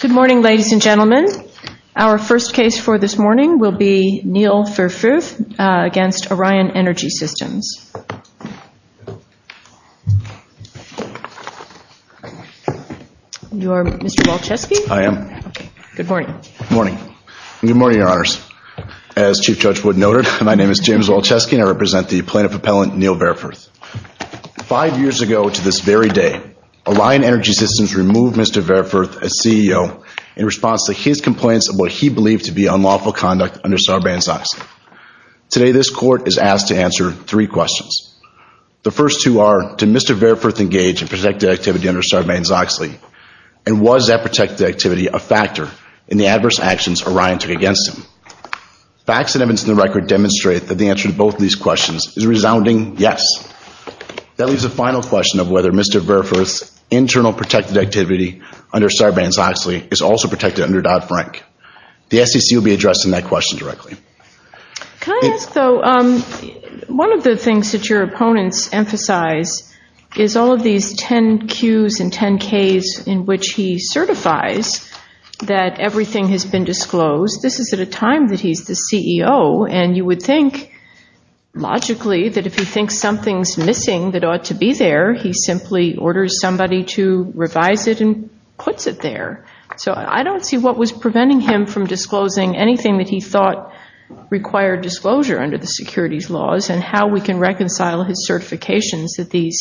Good morning, ladies and gentlemen. Our first case for this morning will be Neal Verfuerth v. Orion Energy Systems. You are Mr. Walczewski? I am. Good morning. Good morning, your honors. As Chief Judge Wood noted, my name is James Walczewski and I represent the plaintiff appellant Neal Verfuerth v. Orion Energy Systems. Today, Orion Energy Systems removed Mr. Verfuerth as CEO in response to his complaints of what he believed to be unlawful conduct under Sarbanes-Oxley. Today, this court is asked to answer three questions. The first two are, did Mr. Verfuerth engage in protected activity under Sarbanes-Oxley and was that protected activity a factor in the adverse actions Orion took against him? Facts and evidence in the record demonstrate that the answer to both of these questions is a resounding yes. That leaves a final question of whether Mr. Verfuerth's internal protected activity under Sarbanes-Oxley is also protected under Dodd-Frank. The SEC will be addressing that question directly. Can I ask though, one of the things that your opponents emphasize is all of these 10 Qs and 10 Ks in which he certifies that everything has been disclosed. This is at a time that he's the CEO and you would think, logically, that if he thinks something's missing that ought to be there, he simply orders somebody to revise it and puts it there. So I don't see what was preventing him from disclosing anything that he thought required disclosure under the securities laws and how we can reconcile his certifications that these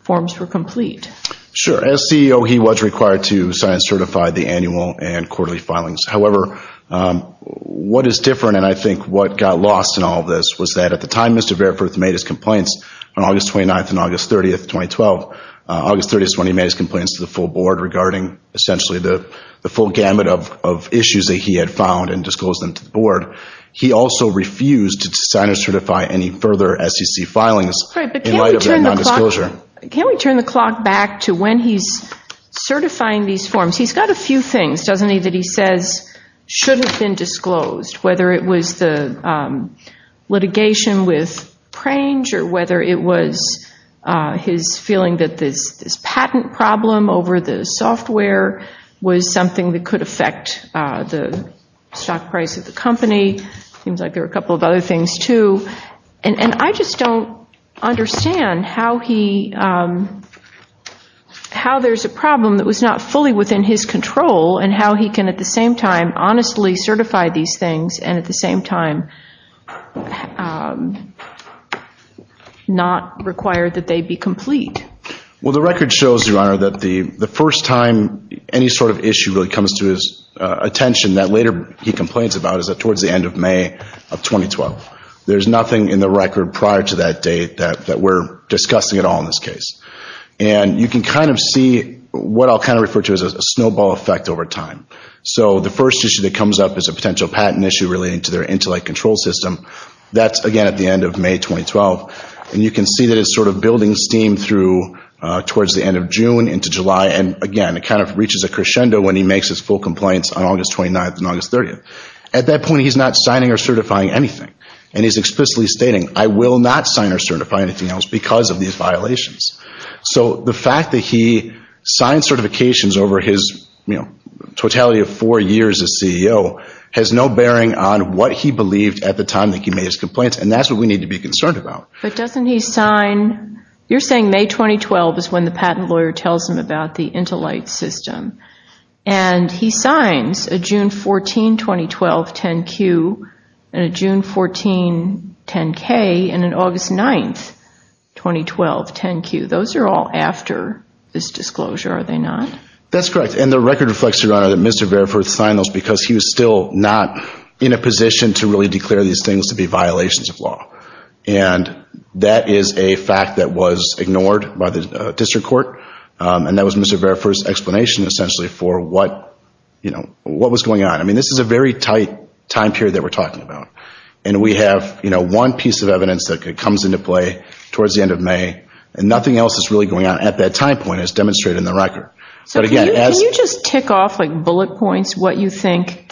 forms were complete. Sure, as CEO he was required to sign and certify the annual and quarterly filings. However, what is different and I think what got lost in all this was that at the time Mr. Verfuerth made his complaints on August 29th and August 30th, 2012, August 30th is when he made his complaints to the full board regarding essentially the full gamut of issues that he had found and disclosed them to the board. He also refused to sign or certify any further SEC filings in light of their nondisclosure. Can we turn the clock back to when he's certifying these forms? He's got a few things, doesn't he, that he says should have been disclosed, whether it was the litigation with Prange or whether it was his feeling that this patent problem over the software was something that could affect the stock price of the company. Seems like there were a couple of other things too. And I just don't understand how he, how there's a problem that was not fully within his control and how he can at the same time honestly certify these things and at the same time not require that they be complete. Well the record shows, Your Honor, that the first time any sort of issue really comes to his attention that later he complains about is that towards the end of May of 2012. There's nothing in the record prior to that date that we're discussing at all in this case. And you can kind of see what I'll kind of refer to as a snowball effect over time. So the first issue that comes up is a potential patent issue relating to their control system. That's again at the end of May 2012. And you can see that it's sort of building steam through towards the end of June into July and again it kind of reaches a crescendo when he makes his full complaints on August 29th and August 30th. At that point he's not signing or certifying anything. And he's explicitly stating, I will not sign or certify anything else because of these violations. So the fact that he signed certifications over his, you know, he believed at the time that he made his complaints and that's what we need to be concerned about. But doesn't he sign, you're saying May 2012 is when the patent lawyer tells him about the intolight system. And he signs a June 14, 2012, 10-Q and a June 14, 10-K and an August 9th, 2012, 10-Q. Those are all after this disclosure, are they not? That's correct. And the record reflects, Your position to really declare these things to be violations of law. And that is a fact that was ignored by the district court. And that was Mr. Verifor's explanation essentially for what, you know, what was going on. I mean this is a very tight time period that we're talking about. And we have, you know, one piece of evidence that comes into play towards the end of May and nothing else is really going on at that time point as demonstrated in the record. But again as you just tick off like bullet points what you think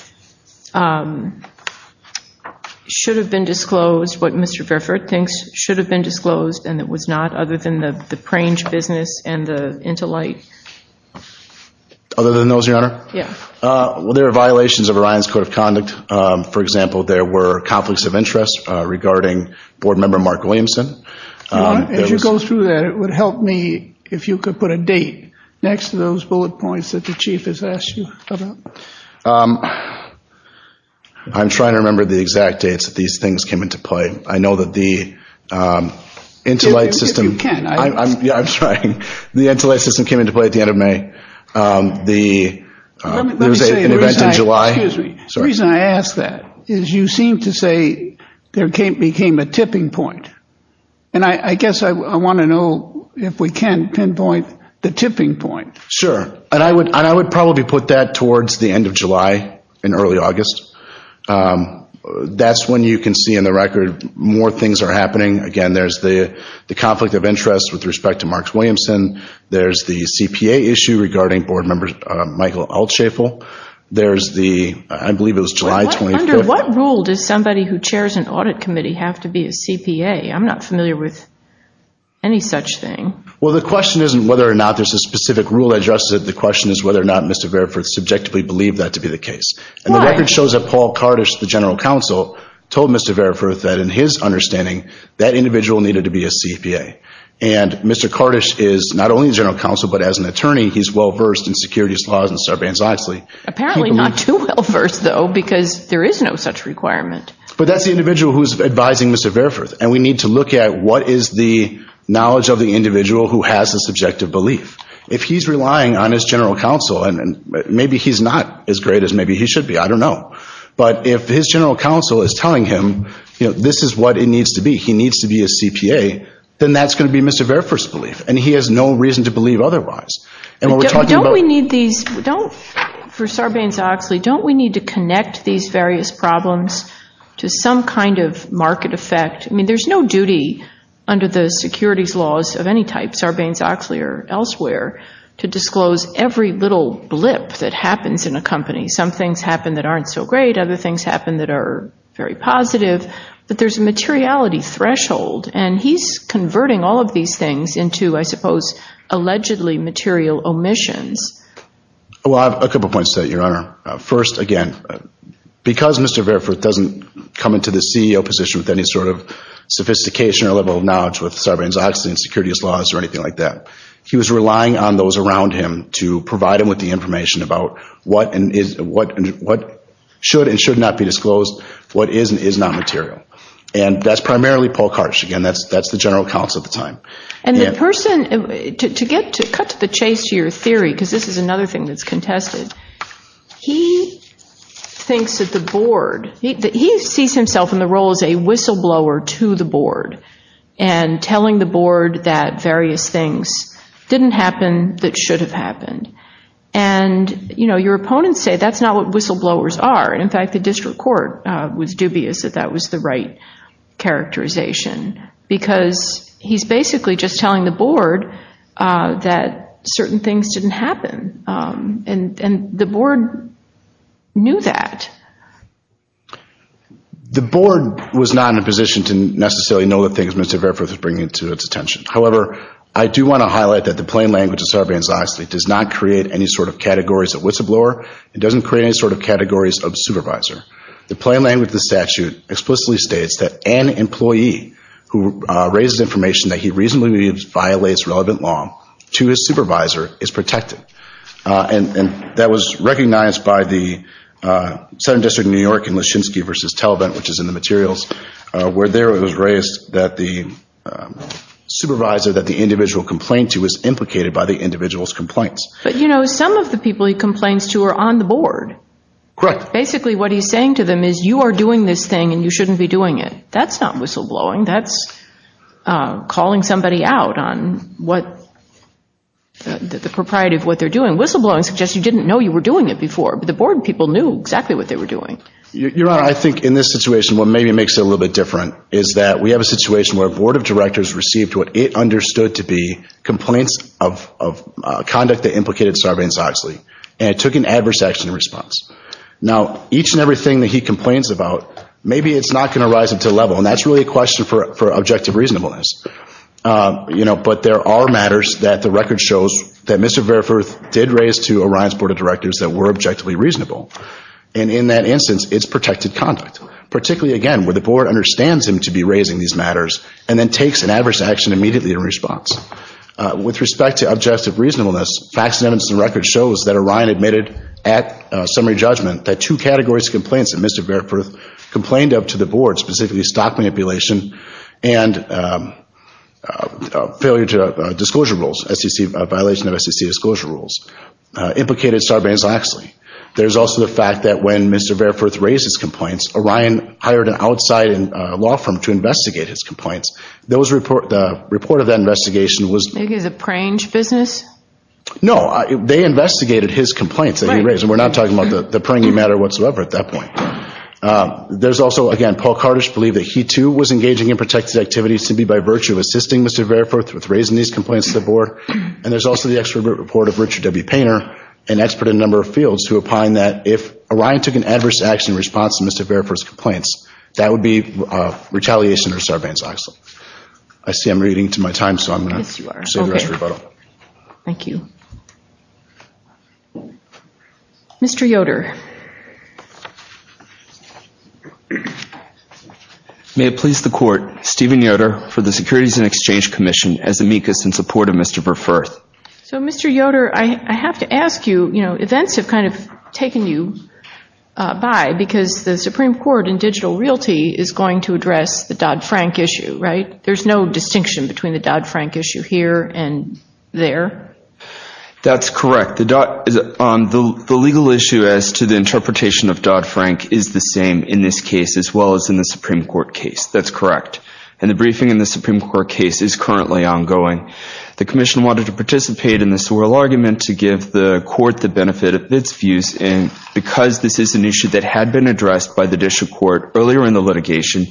should have been disclosed, what Mr. Veriford thinks should have been disclosed and it was not, other than the the Prange business and the intolight? Other than those, Your Honor? Yeah. Well there are violations of Orion's Code of Conduct. For example, there were conflicts of interest regarding board member Mark Williamson. As you go through that, it would help me if you could put a date next to those bullet points that the chief has asked you about. I'm trying to remember the exact dates that these things came into play. I know that the intolight system. If you can. Yeah, I'm trying. The intolight system came into play at the end of May. There was an event in July. Excuse me. The reason I ask that is you seem to say there became a tipping point. And I would probably put that towards the end of July and early August. That's when you can see in the record more things are happening. Again, there's the the conflict of interest with respect to Marks Williamson. There's the CPA issue regarding board members Michael Altshafel. There's the, I believe it was July 25th. Under what rule does somebody who chairs an audit committee have to be a CPA? I'm not familiar with any such thing. Well the question isn't whether or not Mr. Variforth subjectively believed that to be the case. And the record shows that Paul Kardish, the general counsel, told Mr. Variforth that in his understanding that individual needed to be a CPA. And Mr. Kardish is not only the general counsel but as an attorney he's well versed in securities laws and Sarbanes-Oxley. Apparently not too well versed though because there is no such requirement. But that's the individual who's advising Mr. Variforth. And we need to look at what is the knowledge of the general counsel. And maybe he's not as great as maybe he should be. I don't know. But if his general counsel is telling him, you know, this is what it needs to be. He needs to be a CPA. Then that's going to be Mr. Variforth's belief. And he has no reason to believe otherwise. And what we're talking about... Don't we need these, don't, for Sarbanes-Oxley, don't we need to connect these various problems to some kind of market effect? I mean there's no duty under the securities laws of any type, Sarbanes-Oxley or elsewhere, to disclose every little blip that happens in a company. Some things happen that aren't so great. Other things happen that are very positive. But there's a materiality threshold. And he's converting all of these things into, I suppose, allegedly material omissions. Well, I have a couple points to that, Your Honor. First, again, because Mr. Variforth doesn't come into the CEO position with any sort of sophistication or level of knowledge with anything like that. He was relying on those around him to provide him with the information about what should and should not be disclosed, what is and is not material. And that's primarily Paul Karch. Again, that's the general counsel at the time. And the person, to cut to the chase to your theory, because this is another thing that's contested, he thinks that the board, he sees himself in the role as a whistleblower to the board. And telling the board that various things didn't happen that should have happened. And, you know, your opponents say that's not what whistleblowers are. In fact, the district court was dubious that that was the right characterization. Because he's basically just telling the board that certain things didn't happen. And the board knew that. The board was not in a position to necessarily know the things Mr. Variforth was bringing to its attention. However, I do want to highlight that the plain language of Sarbanes-Oxley does not create any sort of categories of whistleblower. It doesn't create any sort of categories of supervisor. The plain language of the statute explicitly states that an employee who raises information that he reasonably violates relevant law to his supervisor is protected. And that was recognized by the Southern District of New York in Leschinsky v. Talbot, which is in the materials, where there it was raised that the supervisor that the individual complained to was implicated by the individual's complaints. But, you know, some of the people he complains to are on the board. Correct. Basically what he's saying to them is you are doing this thing and you shouldn't be doing it. That's not whistleblowing. That's calling somebody out on what the propriety of what they're doing. Whistleblowing suggests you didn't know you were doing it before, but the board people knew exactly what they were doing. Your Honor, I think in this situation what maybe makes it a little bit different is that we have a situation where a board of directors received what it understood to be complaints of conduct that implicated Sarbanes-Oxley, and it took an adverse action response. Now, each and every thing that he complains about, maybe it's not going to rise up to a level, and that's really a question for objective reasonableness. You know, but there are matters that the record shows that Mr. Verfurth did raise to Orion's board of directors that were objectively reasonable. And in that instance, it's protected conduct, particularly, again, where the board understands him to be raising these matters and then takes an adverse action immediately in response. With respect to objective reasonableness, facts and evidence in the record shows that Orion admitted at summary judgment that two categories of complaints that Mr. Verfurth complained of to the board, specifically stock manipulation and failure to disclosure rules, violation of SEC disclosure rules, implicated Sarbanes-Oxley. There's also the fact that when Mr. Verfurth raised his complaints, Orion hired an outside law firm to investigate his complaints. The report of that investigation was – Maybe it was a prange business? No, they investigated his complaints that he raised. And we're not talking about the pranging matter whatsoever at that point. There's also, again, Paul Kardish believed that he too was engaging in protected activities simply by virtue of assisting Mr. Verfurth with raising these complaints to the board. And there's also the expert report of Richard W. Painter, an expert in a number of fields, who opined that if Orion took an adverse action in response to Mr. Verfurth's complaints, that would be retaliation or Sarbanes-Oxley. I see I'm reading to my time, so I'm going to save the rest for rebuttal. Thank you. Mr. Yoder. May it please the Court, Stephen Yoder for the Securities and Exchange Commission, as amicus in support of Mr. Verfurth. So, Mr. Yoder, I have to ask you, you know, events have kind of taken you by because the Supreme Court in digital realty is going to address the Dodd-Frank issue, right? There's no distinction between the Dodd-Frank issue here and there? That's correct. The legal issue as to the interpretation of Dodd-Frank is the same in this case as well as in the Supreme Court case. That's correct. And the briefing in the Supreme Court case is currently ongoing. The Commission wanted to participate in this oral argument to give the Court the benefit of its views because this is an issue that had been addressed by the District Court earlier in the litigation,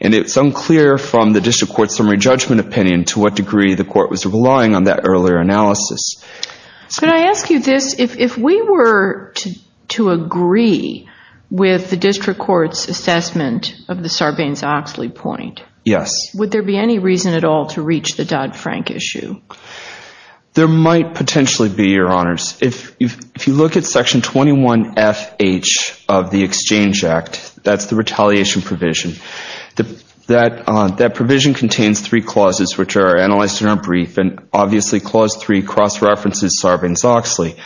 and it's unclear from the District Court's summary judgment opinion to what degree the Court was relying on that earlier analysis. Could I ask you this? If we were to agree with the District Court's assessment of the Sarbanes-Oxley point, would there be any reason at all to reach the Dodd-Frank issue? There might potentially be, Your Honors. If you look at Section 21FH of the Exchange Act, that's the retaliation provision, that provision contains three clauses which are analyzed in our brief, and obviously Clause 3 cross-references Sarbanes-Oxley.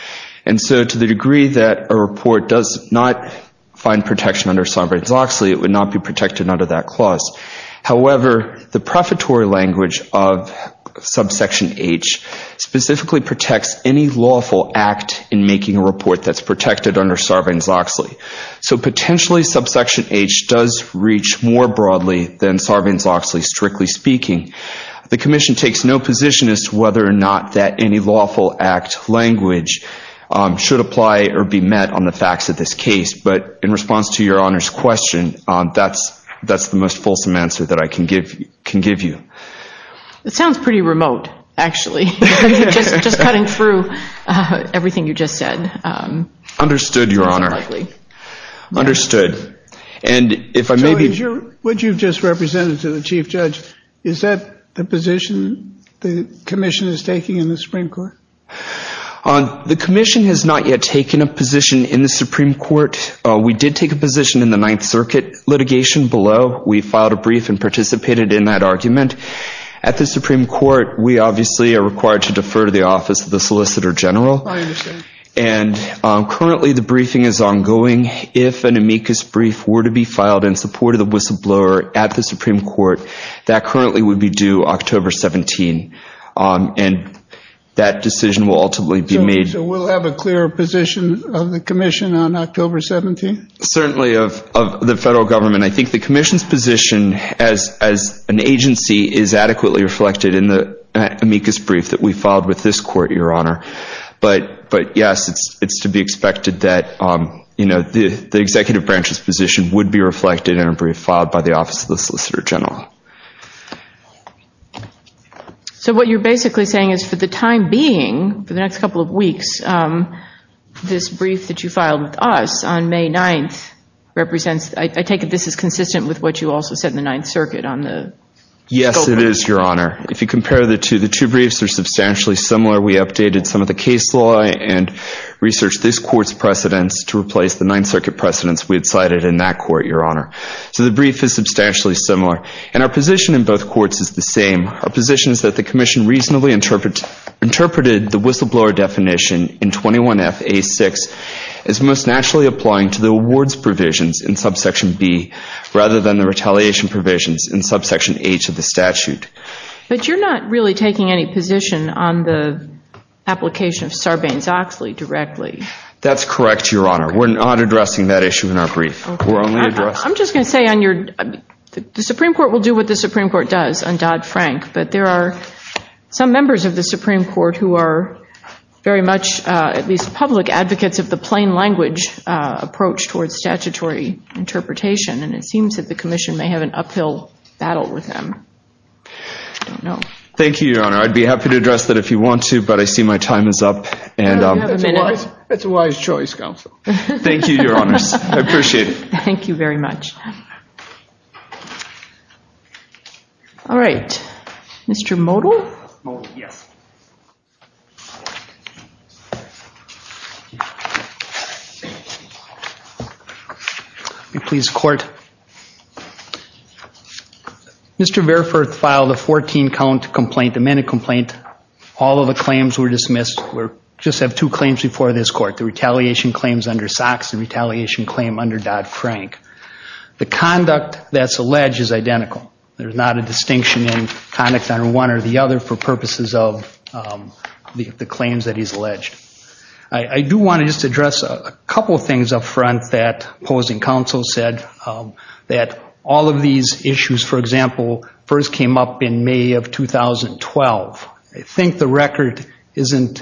And so to the degree that a report does not find protection under Sarbanes-Oxley, it would not be protected under that clause. However, the prefatory language of Subsection H specifically protects any lawful act in making a report that's protected under Sarbanes-Oxley. So potentially Subsection H does reach more broadly than Sarbanes-Oxley, strictly speaking. The Commission takes no position as to whether or not that any lawful act language should apply or be met on the facts of this case. But in response to Your Honor's question, that's the most fulsome answer that I can give you. It sounds pretty remote, actually, just cutting through everything you just said. Understood, Your Honor. That's unlikely. Understood. And if I may be— So what you've just represented to the Chief Judge, is that the position the Commission is taking in the Supreme Court? The Commission has not yet taken a position in the Supreme Court. We did take a position in the Ninth Circuit litigation below. We filed a brief and participated in that argument. At the Supreme Court, we obviously are required to defer to the Office of the Solicitor General. I understand. And currently the briefing is ongoing. If an amicus brief were to be filed in support of the whistleblower at the Supreme Court, that currently would be due October 17. And that decision will ultimately be made— So we'll have a clearer position of the Commission on October 17? Certainly, of the federal government. I think the Commission's position as an agency is adequately reflected in the amicus brief that we filed with this court, Your Honor. But, yes, it's to be expected that the executive branch's position would be reflected in a brief filed by the Office of the Solicitor General. So what you're basically saying is for the time being, for the next couple of weeks, this brief that you filed with us on May 9th represents— I take it this is consistent with what you also said in the Ninth Circuit on the scope of— Yes, it is, Your Honor. If you compare the two, the two briefs are substantially similar. We updated some of the case law and researched this court's precedents to replace the Ninth Circuit precedents we had cited in that court, Your Honor. So the brief is substantially similar. And our position in both courts is the same. Our position is that the Commission reasonably interpreted the whistleblower definition in 21F-A-6 as most naturally applying to the awards provisions in subsection B rather than the retaliation provisions in subsection H of the statute. But you're not really taking any position on the application of Sarbanes-Oxley directly. That's correct, Your Honor. We're not addressing that issue in our brief. We're only addressing— I'm just going to say on your—the Supreme Court will do what the Supreme Court does on Dodd-Frank, but there are some members of the Supreme Court who are very much at least public advocates of the plain language approach towards statutory interpretation. And it seems that the Commission may have an uphill battle with them. I don't know. Thank you, Your Honor. I'd be happy to address that if you want to, but I see my time is up. You have a minute. It's a wise choice, Counsel. Thank you, Your Honor. I appreciate it. Thank you very much. All right. Mr. Modell? Modell, yes. If you please, Court. Mr. Verfurth filed a 14-count complaint, amended complaint. All of the claims were dismissed. We just have two claims before this Court. The retaliation claims under Sox and the retaliation claim under Dodd-Frank. The conduct that's alleged is identical. There's not a distinction in conduct on one or the other for purposes of the claims that he's alleged. I do want to just address a couple of things up front that opposing counsel said, that all of these issues, for example, first came up in May of 2012. I think the record doesn't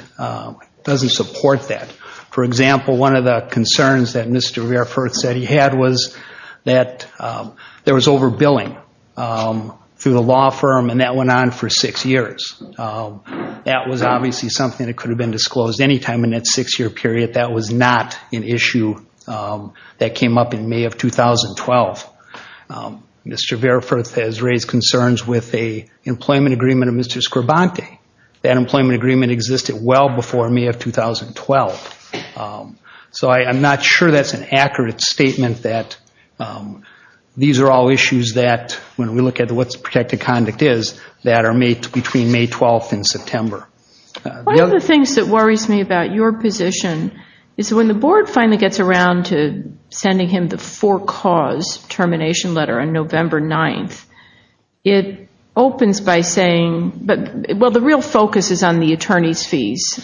support that. For example, one of the concerns that Mr. Verfurth said he had was that there was overbilling through the law firm, and that went on for six years. That was obviously something that could have been disclosed any time in that six-year period. That was not an issue that came up in May of 2012. Mr. Verfurth has raised concerns with an employment agreement of Mr. Scribante. That employment agreement existed well before May of 2012. So I'm not sure that's an accurate statement that these are all issues that, when we look at what protected conduct is, that are between May 12th and September. One of the things that worries me about your position is when the Board finally gets around to sending him the termination letter on November 9th, it opens by saying, well, the real focus is on the attorney's fees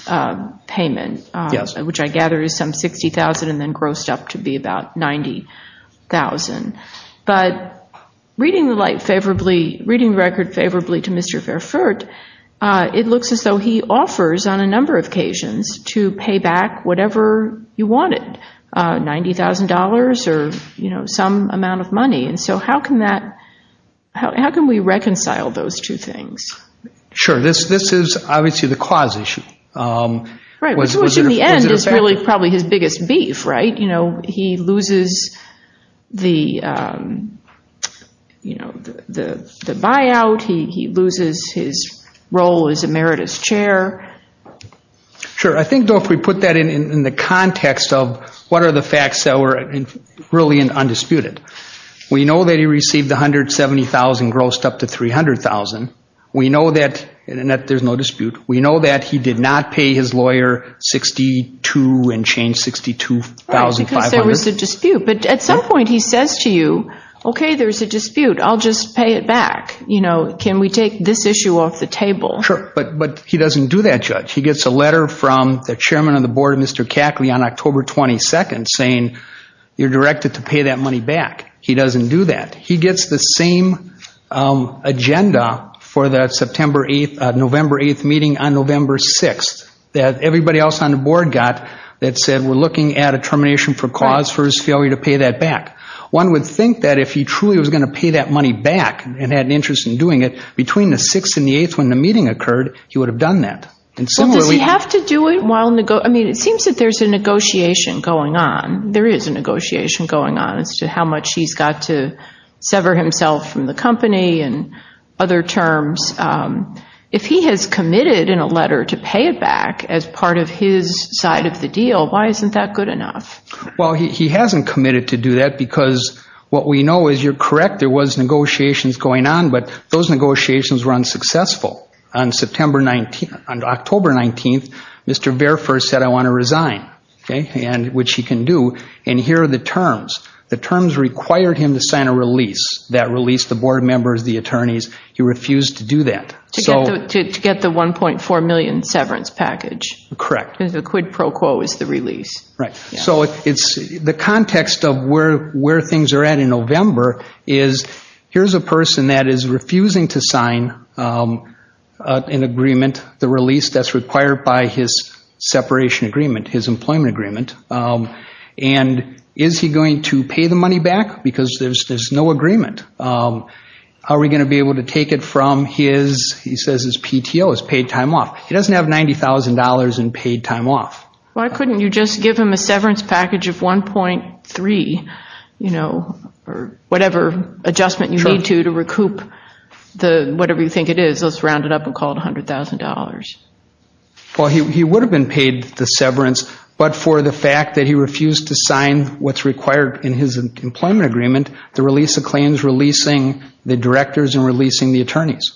payment, which I gather is some $60,000, and then grossed up to be about $90,000. But reading the record favorably to Mr. Verfurth, it looks as though he offers on a number of occasions to pay back whatever you wanted, $90,000 or some amount of money. So how can we reconcile those two things? Sure, this is obviously the cause issue. Which in the end is probably his biggest beef, right? He loses the buyout, he loses his role as Emeritus Chair. Sure, I think, though, if we put that in the context of what are the facts that were really undisputed. We know that he received $170,000, grossed up to $300,000. We know that there's no dispute. We know that he did not pay his lawyer $62,000 and change $62,500. Right, because there was a dispute. But at some point he says to you, okay, there's a dispute, I'll just pay it back. Can we take this issue off the table? Sure, but he doesn't do that, Judge. He gets a letter from the Chairman of the Board, Mr. Cackley, on October 22nd saying you're directed to pay that money back. He doesn't do that. He gets the same agenda for that September 8th, November 8th meeting on November 6th that everybody else on the Board got that said we're looking at a termination for cause for his failure to pay that back. One would think that if he truly was going to pay that money back and had an interest in doing it, between the 6th and the 8th when the meeting occurred, he would have done that. Does he have to do it? I mean, it seems that there's a negotiation going on. There is a negotiation going on as to how much he's got to sever himself from the company and other terms. If he has committed in a letter to pay it back as part of his side of the deal, why isn't that good enough? Well, he hasn't committed to do that because what we know is you're correct, there was negotiations going on, but those negotiations were unsuccessful. On October 19th, Mr. Verfurst said I want to resign, which he can do, and here are the terms. The terms required him to sign a release. That release, the Board members, the attorneys, he refused to do that. To get the $1.4 million severance package. Correct. Because the quid pro quo is the release. The context of where things are at in November is here's a person that is refusing to sign an agreement, the release that's required by his separation agreement, his employment agreement, and is he going to pay the money back because there's no agreement? Are we going to be able to take it from his, he says his PTO, his paid time off. He doesn't have $90,000 in paid time off. Why couldn't you just give him a severance package of 1.3 or whatever adjustment you need to to recoup whatever you think it is, let's round it up and call it $100,000. Well, he would have been paid the severance, but for the fact that he refused to sign what's required in his employment agreement, the release of claims, releasing the directors and releasing the attorneys.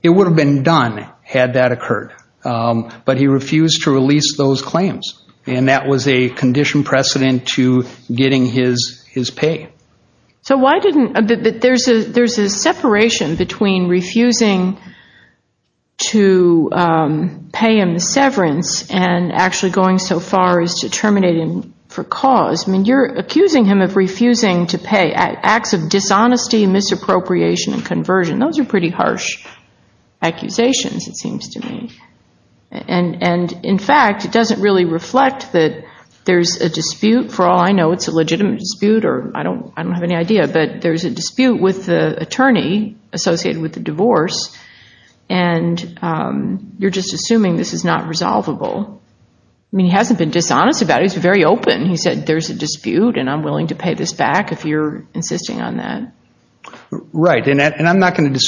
It would have been done had that occurred. But he refused to release those claims. And that was a condition precedent to getting his pay. So why didn't, there's a separation between refusing to pay him the severance and actually going so far as to terminate him for cause. I mean, you're accusing him of refusing to pay. Acts of dishonesty, misappropriation, and conversion. Those are pretty harsh accusations, it seems to me. And in fact, it doesn't really reflect that there's a dispute. For all I know, it's a legitimate dispute, or I don't have any idea. But there's a dispute with the attorney associated with the divorce, and you're just assuming this is not resolvable. I mean, he hasn't been dishonest about it. He's very open. He said there's a dispute and I'm willing to pay this back if you're insisting on that. Right, and I'm not going to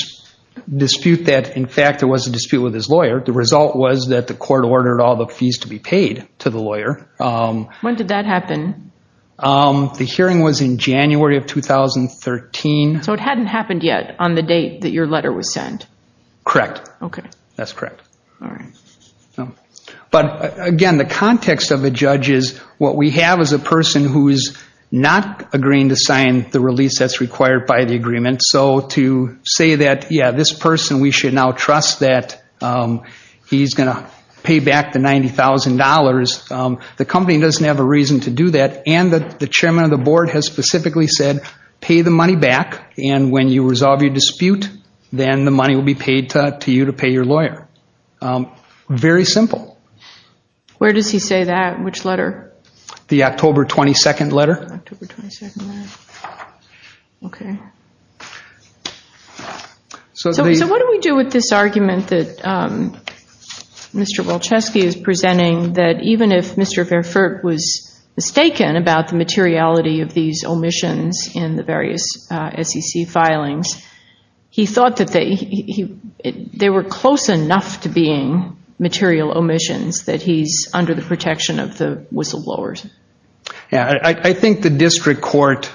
dispute that in fact there was a dispute with his lawyer. The result was that the court ordered all the fees to be paid to the lawyer. When did that happen? The hearing was in January of 2013. So it hadn't happened yet on the date that your letter was sent? Correct. Okay. That's correct. All right. But again, the context of a judge is what we have is a person who is not agreeing to sign the release that's required by the agreement. So to say that, yeah, this person we should now trust that he's going to pay back the $90,000, the company doesn't have a reason to do that, and the chairman of the board has specifically said pay the money back, and when you resolve your dispute, then the money will be paid to you to pay your lawyer. Very simple. Where does he say that? Which letter? The October 22nd letter. October 22nd letter. Okay. So what do we do with this argument that Mr. Walczewski is presenting, that even if Mr. Fairfort was mistaken about the materiality of these omissions in the various SEC filings, he thought that they were close enough to being material omissions that he's under the protection of the whistleblowers? Yeah, I think the district court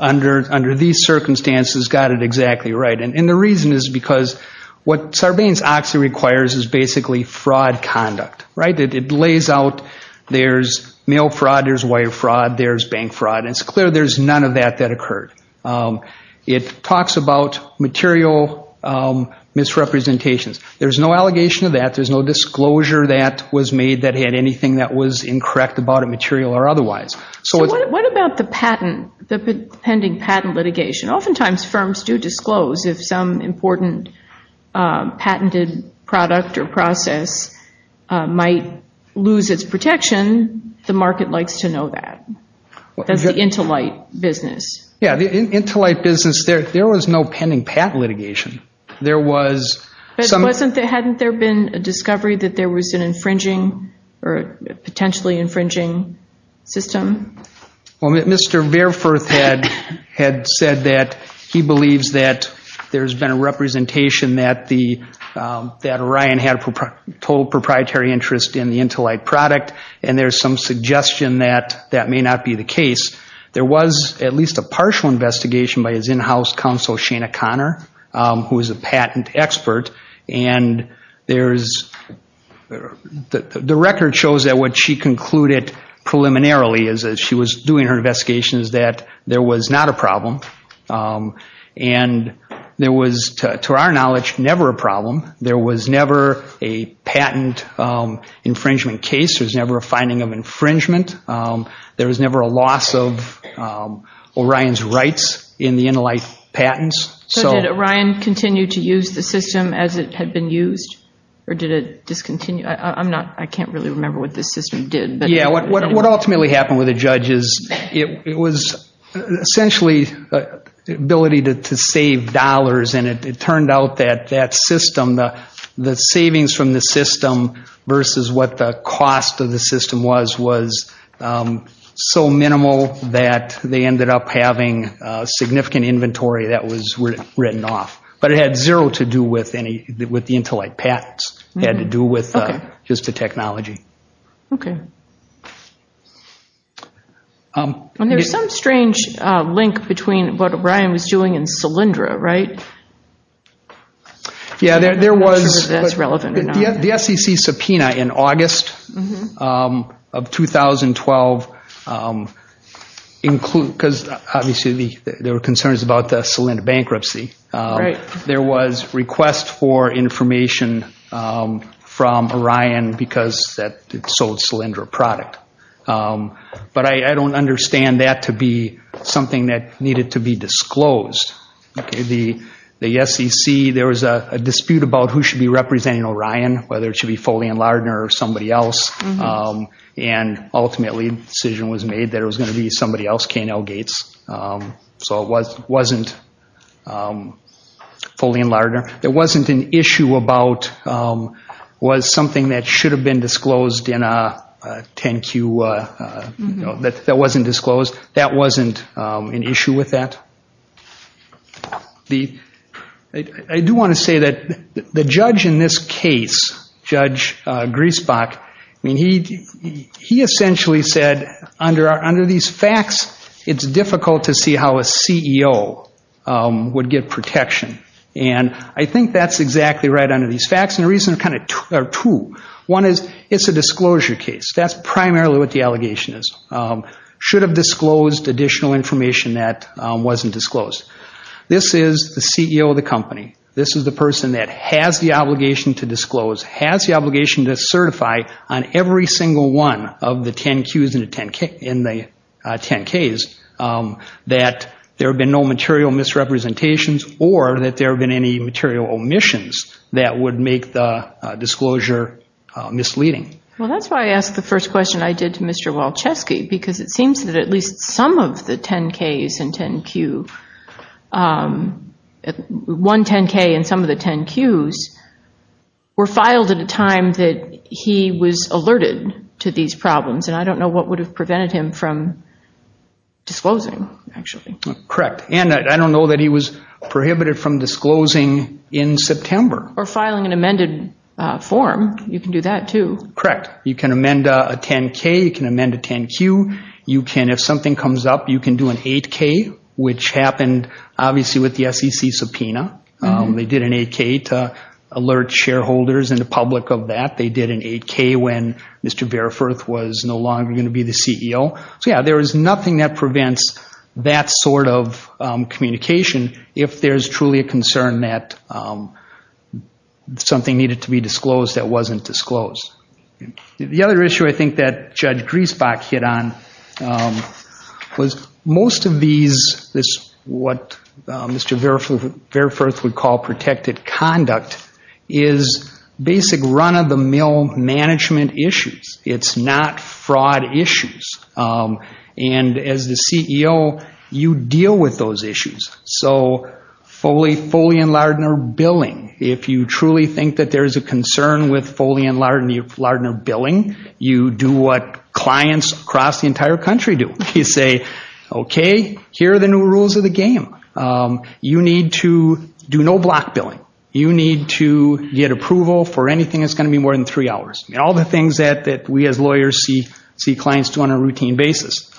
under these circumstances got it exactly right, and the reason is because what Sarbanes-Oxley requires is basically fraud conduct, right? It lays out there's mail fraud, there's wire fraud, there's bank fraud, and it's clear there's none of that that occurred. It talks about material misrepresentations. There's no allegation of that. There's no disclosure that was made that had anything that was incorrect about it, material or otherwise. So what about the patent, the pending patent litigation? Oftentimes firms do disclose. If some important patented product or process might lose its protection, the market likes to know that. That's the intolight business. Yeah, the intolight business, there was no pending patent litigation. Hadn't there been a discovery that there was an infringing or potentially infringing system? Well, Mr. Bareforth had said that he believes that there's been a representation that Orion had total proprietary interest in the intolight product, and there's some suggestion that that may not be the case. There was at least a partial investigation by his in-house counsel, Dr. Shana Conner, who is a patent expert, and the record shows that what she concluded preliminarily as she was doing her investigation is that there was not a problem. And there was, to our knowledge, never a problem. There was never a patent infringement case. There was never a finding of infringement. There was never a loss of Orion's rights in the intolight patents. So did Orion continue to use the system as it had been used, or did it discontinue? I can't really remember what the system did. Yeah, what ultimately happened with the judge is it was essentially the ability to save dollars, and it turned out that that system, the savings from the system versus what the cost of the system was, was so minimal that they ended up having significant inventory that was written off. But it had zero to do with the intolight patents. It had to do with just the technology. Okay. And there's some strange link between what Orion was doing and Solyndra, right? Yeah, there was. The SEC subpoena in August of 2012, because obviously there were concerns about the Solyndra bankruptcy. There was request for information from Orion because it sold Solyndra product. But I don't understand that to be something that needed to be disclosed. The SEC, there was a dispute about who should be representing Orion, whether it should be Foley and Lardner or somebody else. And ultimately the decision was made that it was going to be somebody else, K&L Gates. So it wasn't Foley and Lardner. It wasn't an issue about was something that should have been disclosed in a 10-Q, that wasn't disclosed. That wasn't an issue with that. I do want to say that the judge in this case, Judge Griesbach, I mean he essentially said under these facts it's difficult to see how a CEO would get protection. And I think that's exactly right under these facts. And the reasons are kind of two. One is it's a disclosure case. That's primarily what the allegation is. Should have disclosed additional information that wasn't disclosed. This is the CEO of the company. This is the person that has the obligation to disclose, has the obligation to certify on every single one of the 10-Qs and the 10-Ks that there have been no material misrepresentations or that there have been any material omissions that would make the disclosure misleading. Well, that's why I asked the first question I did to Mr. Walczewski, because it seems that at least some of the 10-Ks and 10-Qs, one 10-K and some of the 10-Qs, were filed at a time that he was alerted to these problems. And I don't know what would have prevented him from disclosing, actually. Correct. And I don't know that he was prohibited from disclosing in September. Or filing an amended form. You can do that, too. Correct. You can amend a 10-K. You can amend a 10-Q. You can, if something comes up, you can do an 8-K, which happened obviously with the SEC subpoena. They did an 8-K to alert shareholders and the public of that. They did an 8-K when Mr. Variforth was no longer going to be the CEO. So, yeah, there is nothing that prevents that sort of communication if there's truly a concern that something needed to be disclosed that wasn't disclosed. The other issue I think that Judge Griesbach hit on was most of these, what Mr. Variforth would call protected conduct, is basic run-of-the-mill management issues. It's not fraud issues. And as the CEO, you deal with those issues. So Foley and Lardner billing, if you truly think that there is a concern with Foley and Lardner billing, you do what clients across the entire country do. You say, okay, here are the new rules of the game. You need to do no block billing. You need to get approval for anything that's going to be more than three hours. All the things that we as lawyers see clients do on a routine basis.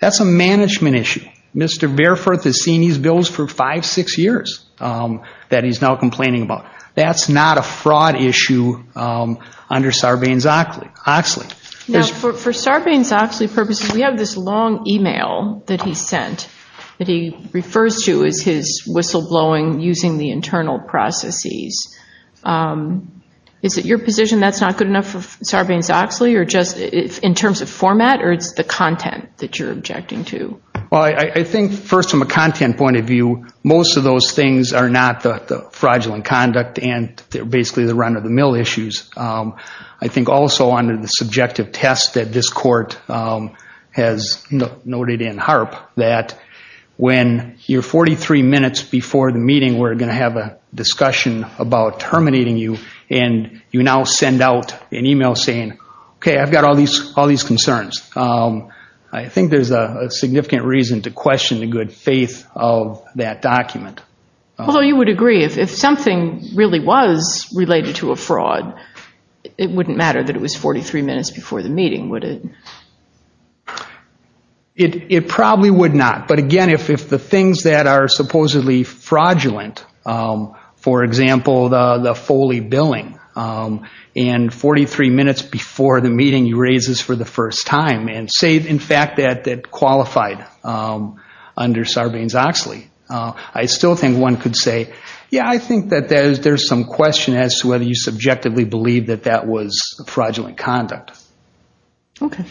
That's a management issue. Mr. Variforth has seen these bills for five, six years that he's now complaining about. That's not a fraud issue under Sarbanes-Oxley. Now, for Sarbanes-Oxley purposes, we have this long e-mail that he sent that he refers to as his whistleblowing using the internal processes. Is it your position that's not good enough for Sarbanes-Oxley in terms of format or it's the content that you're objecting to? Well, I think first from a content point of view, most of those things are not the fraudulent conduct and they're basically the run of the mill issues. I think also under the subjective test that this court has noted in HARP that when you're 43 minutes before the meeting, we're going to have a discussion about terminating you and you now send out an e-mail saying, okay, I've got all these concerns. I think there's a significant reason to question the good faith of that document. Well, you would agree if something really was related to a fraud, it wouldn't matter that it was 43 minutes before the meeting, would it? It probably would not, but again, if the things that are supposedly fraudulent, for example, the Foley billing, and 43 minutes before the meeting you raise this for the first time and say, in fact, that qualified under Sarbanes-Oxley, I still think one could say, yeah, I think that there's some question as to whether you subjectively believe that that was fraudulent conduct. Okay.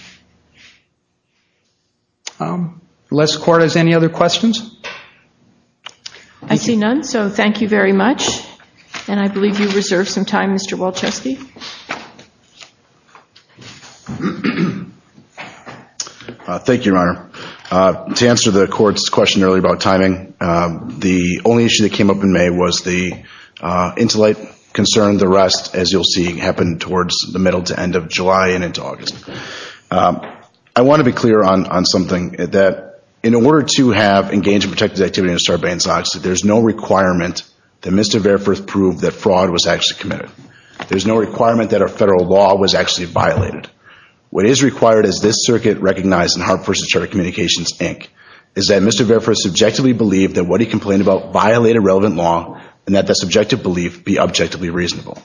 Unless the court has any other questions? I see none, so thank you very much. And I believe you reserved some time, Mr. Walczewski. Thank you, Your Honor. To answer the court's question earlier about timing, the only issue that came up in May was the intellect concern. The rest, as you'll see, happened towards the middle to end of July and into August. I want to be clear on something, that in order to have engaged in protected activity under Sarbanes-Oxley, there's no requirement that Mr. Verfurth prove that fraud was actually committed. There's no requirement that our federal law was actually violated. What is required is this circuit recognized in Hartfordshire Charter Communications, Inc., is that Mr. Verfurth subjectively believe that what he complained about violated relevant law and that the subjective belief be objectively reasonable.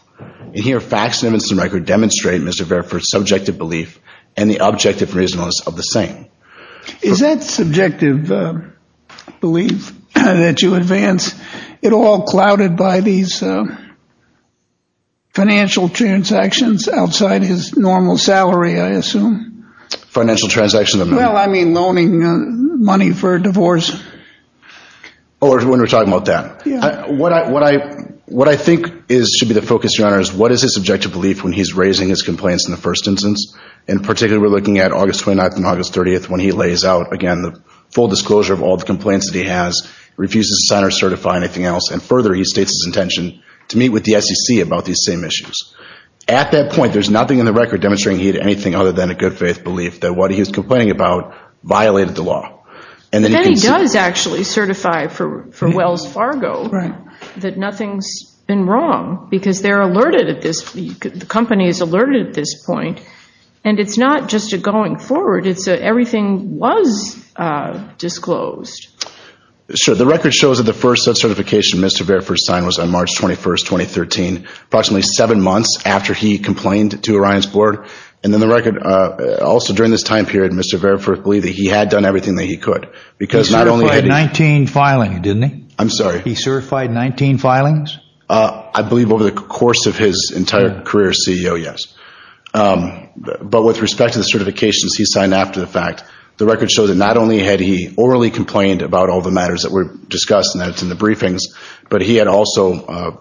In here, facts and evidence in record demonstrate Mr. Verfurth's subjective belief and the objective reasonableness of the saying. Is that subjective belief that you advance, it all clouded by these financial transactions outside his normal salary, I assume? Financial transactions? Well, I mean, loaning money for a divorce. Oh, when we're talking about that? Yeah. What I think should be the focus, Your Honor, is what is his subjective belief when he's raising his complaints in the first instance? In particular, we're looking at August 29th and August 30th when he lays out, again, the full disclosure of all the complaints that he has, refuses to sign or certify anything else, and further, he states his intention to meet with the SEC about these same issues. At that point, there's nothing in the record demonstrating anything other than a good faith belief that what he was complaining about violated the law. And then he does actually certify for Wells Fargo that nothing's been wrong because they're alerted at this, the company is alerted at this point. And it's not just a going forward. It's a everything was disclosed. Sure. The record shows that the first such certification Mr. Variforth signed was on March 21st, 2013, approximately seven months after he complained to Orion's board. And then the record, also during this time period, Mr. Variforth believed that he had done everything that he could because not only had he He certified 19 filings, didn't he? I'm sorry? He certified 19 filings? I believe over the course of his entire career as CEO, yes. But with respect to the certifications he signed after the fact, the record shows that not only had he orally complained about all the matters that were discussed and that's in the briefings, but he had also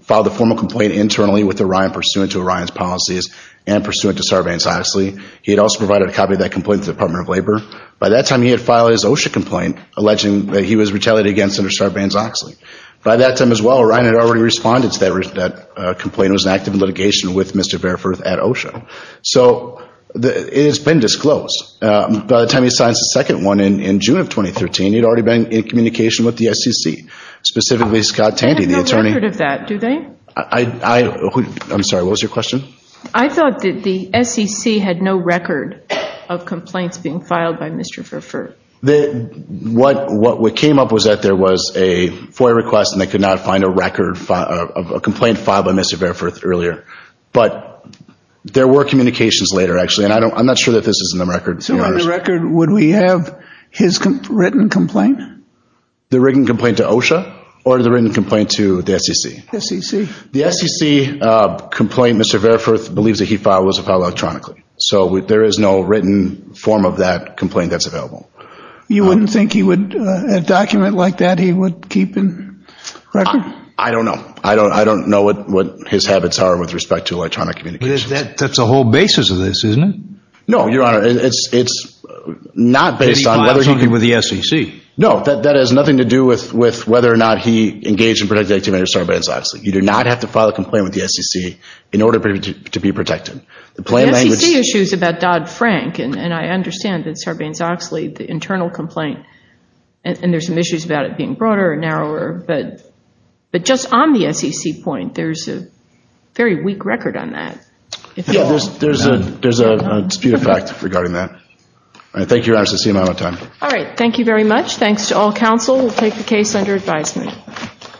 filed a formal complaint internally with Orion, pursuant to Orion's policies and pursuant to Sarbanes-Oxley. He had also provided a copy of that complaint to the Department of Labor. By that time, he had filed his OSHA complaint, alleging that he was retaliated against under Sarbanes-Oxley. By that time as well, Orion had already responded to that complaint and was active in litigation with Mr. Variforth at OSHA. So it has been disclosed. By the time he signs the second one in June of 2013, he had already been in communication with the SEC, specifically Scott Tandy, the attorney. They have no record of that, do they? I'm sorry, what was your question? I thought that the SEC had no record of complaints being filed by Mr. Variforth. What came up was that there was a FOIA request and they could not find a record of a complaint filed by Mr. Variforth earlier. But there were communications later, actually, and I'm not sure that this is in the record. So on the record, would we have his written complaint? The written complaint to OSHA or the written complaint to the SEC? The SEC. The SEC complaint Mr. Variforth believes that he filed was filed electronically. So there is no written form of that complaint that's available. You wouldn't think he would, a document like that, he would keep in record? I don't know. I don't know what his habits are with respect to electronic communications. That's a whole basis of this, isn't it? No, Your Honor, it's not based on whether he filed something with the SEC. No, that has nothing to do with whether or not he engaged in protective activity or started violence, obviously. You do not have to file a complaint with the SEC in order to be protected. The SEC issues about Dodd-Frank, and I understand that Sarbanes-Oxley, the internal complaint, and there's some issues about it being broader or narrower. But just on the SEC point, there's a very weak record on that. Yeah, there's a dispute of fact regarding that. All right, thank you, Your Honor. I see I'm out of time. All right, thank you very much. Thanks to all counsel. We'll take the case under advisement.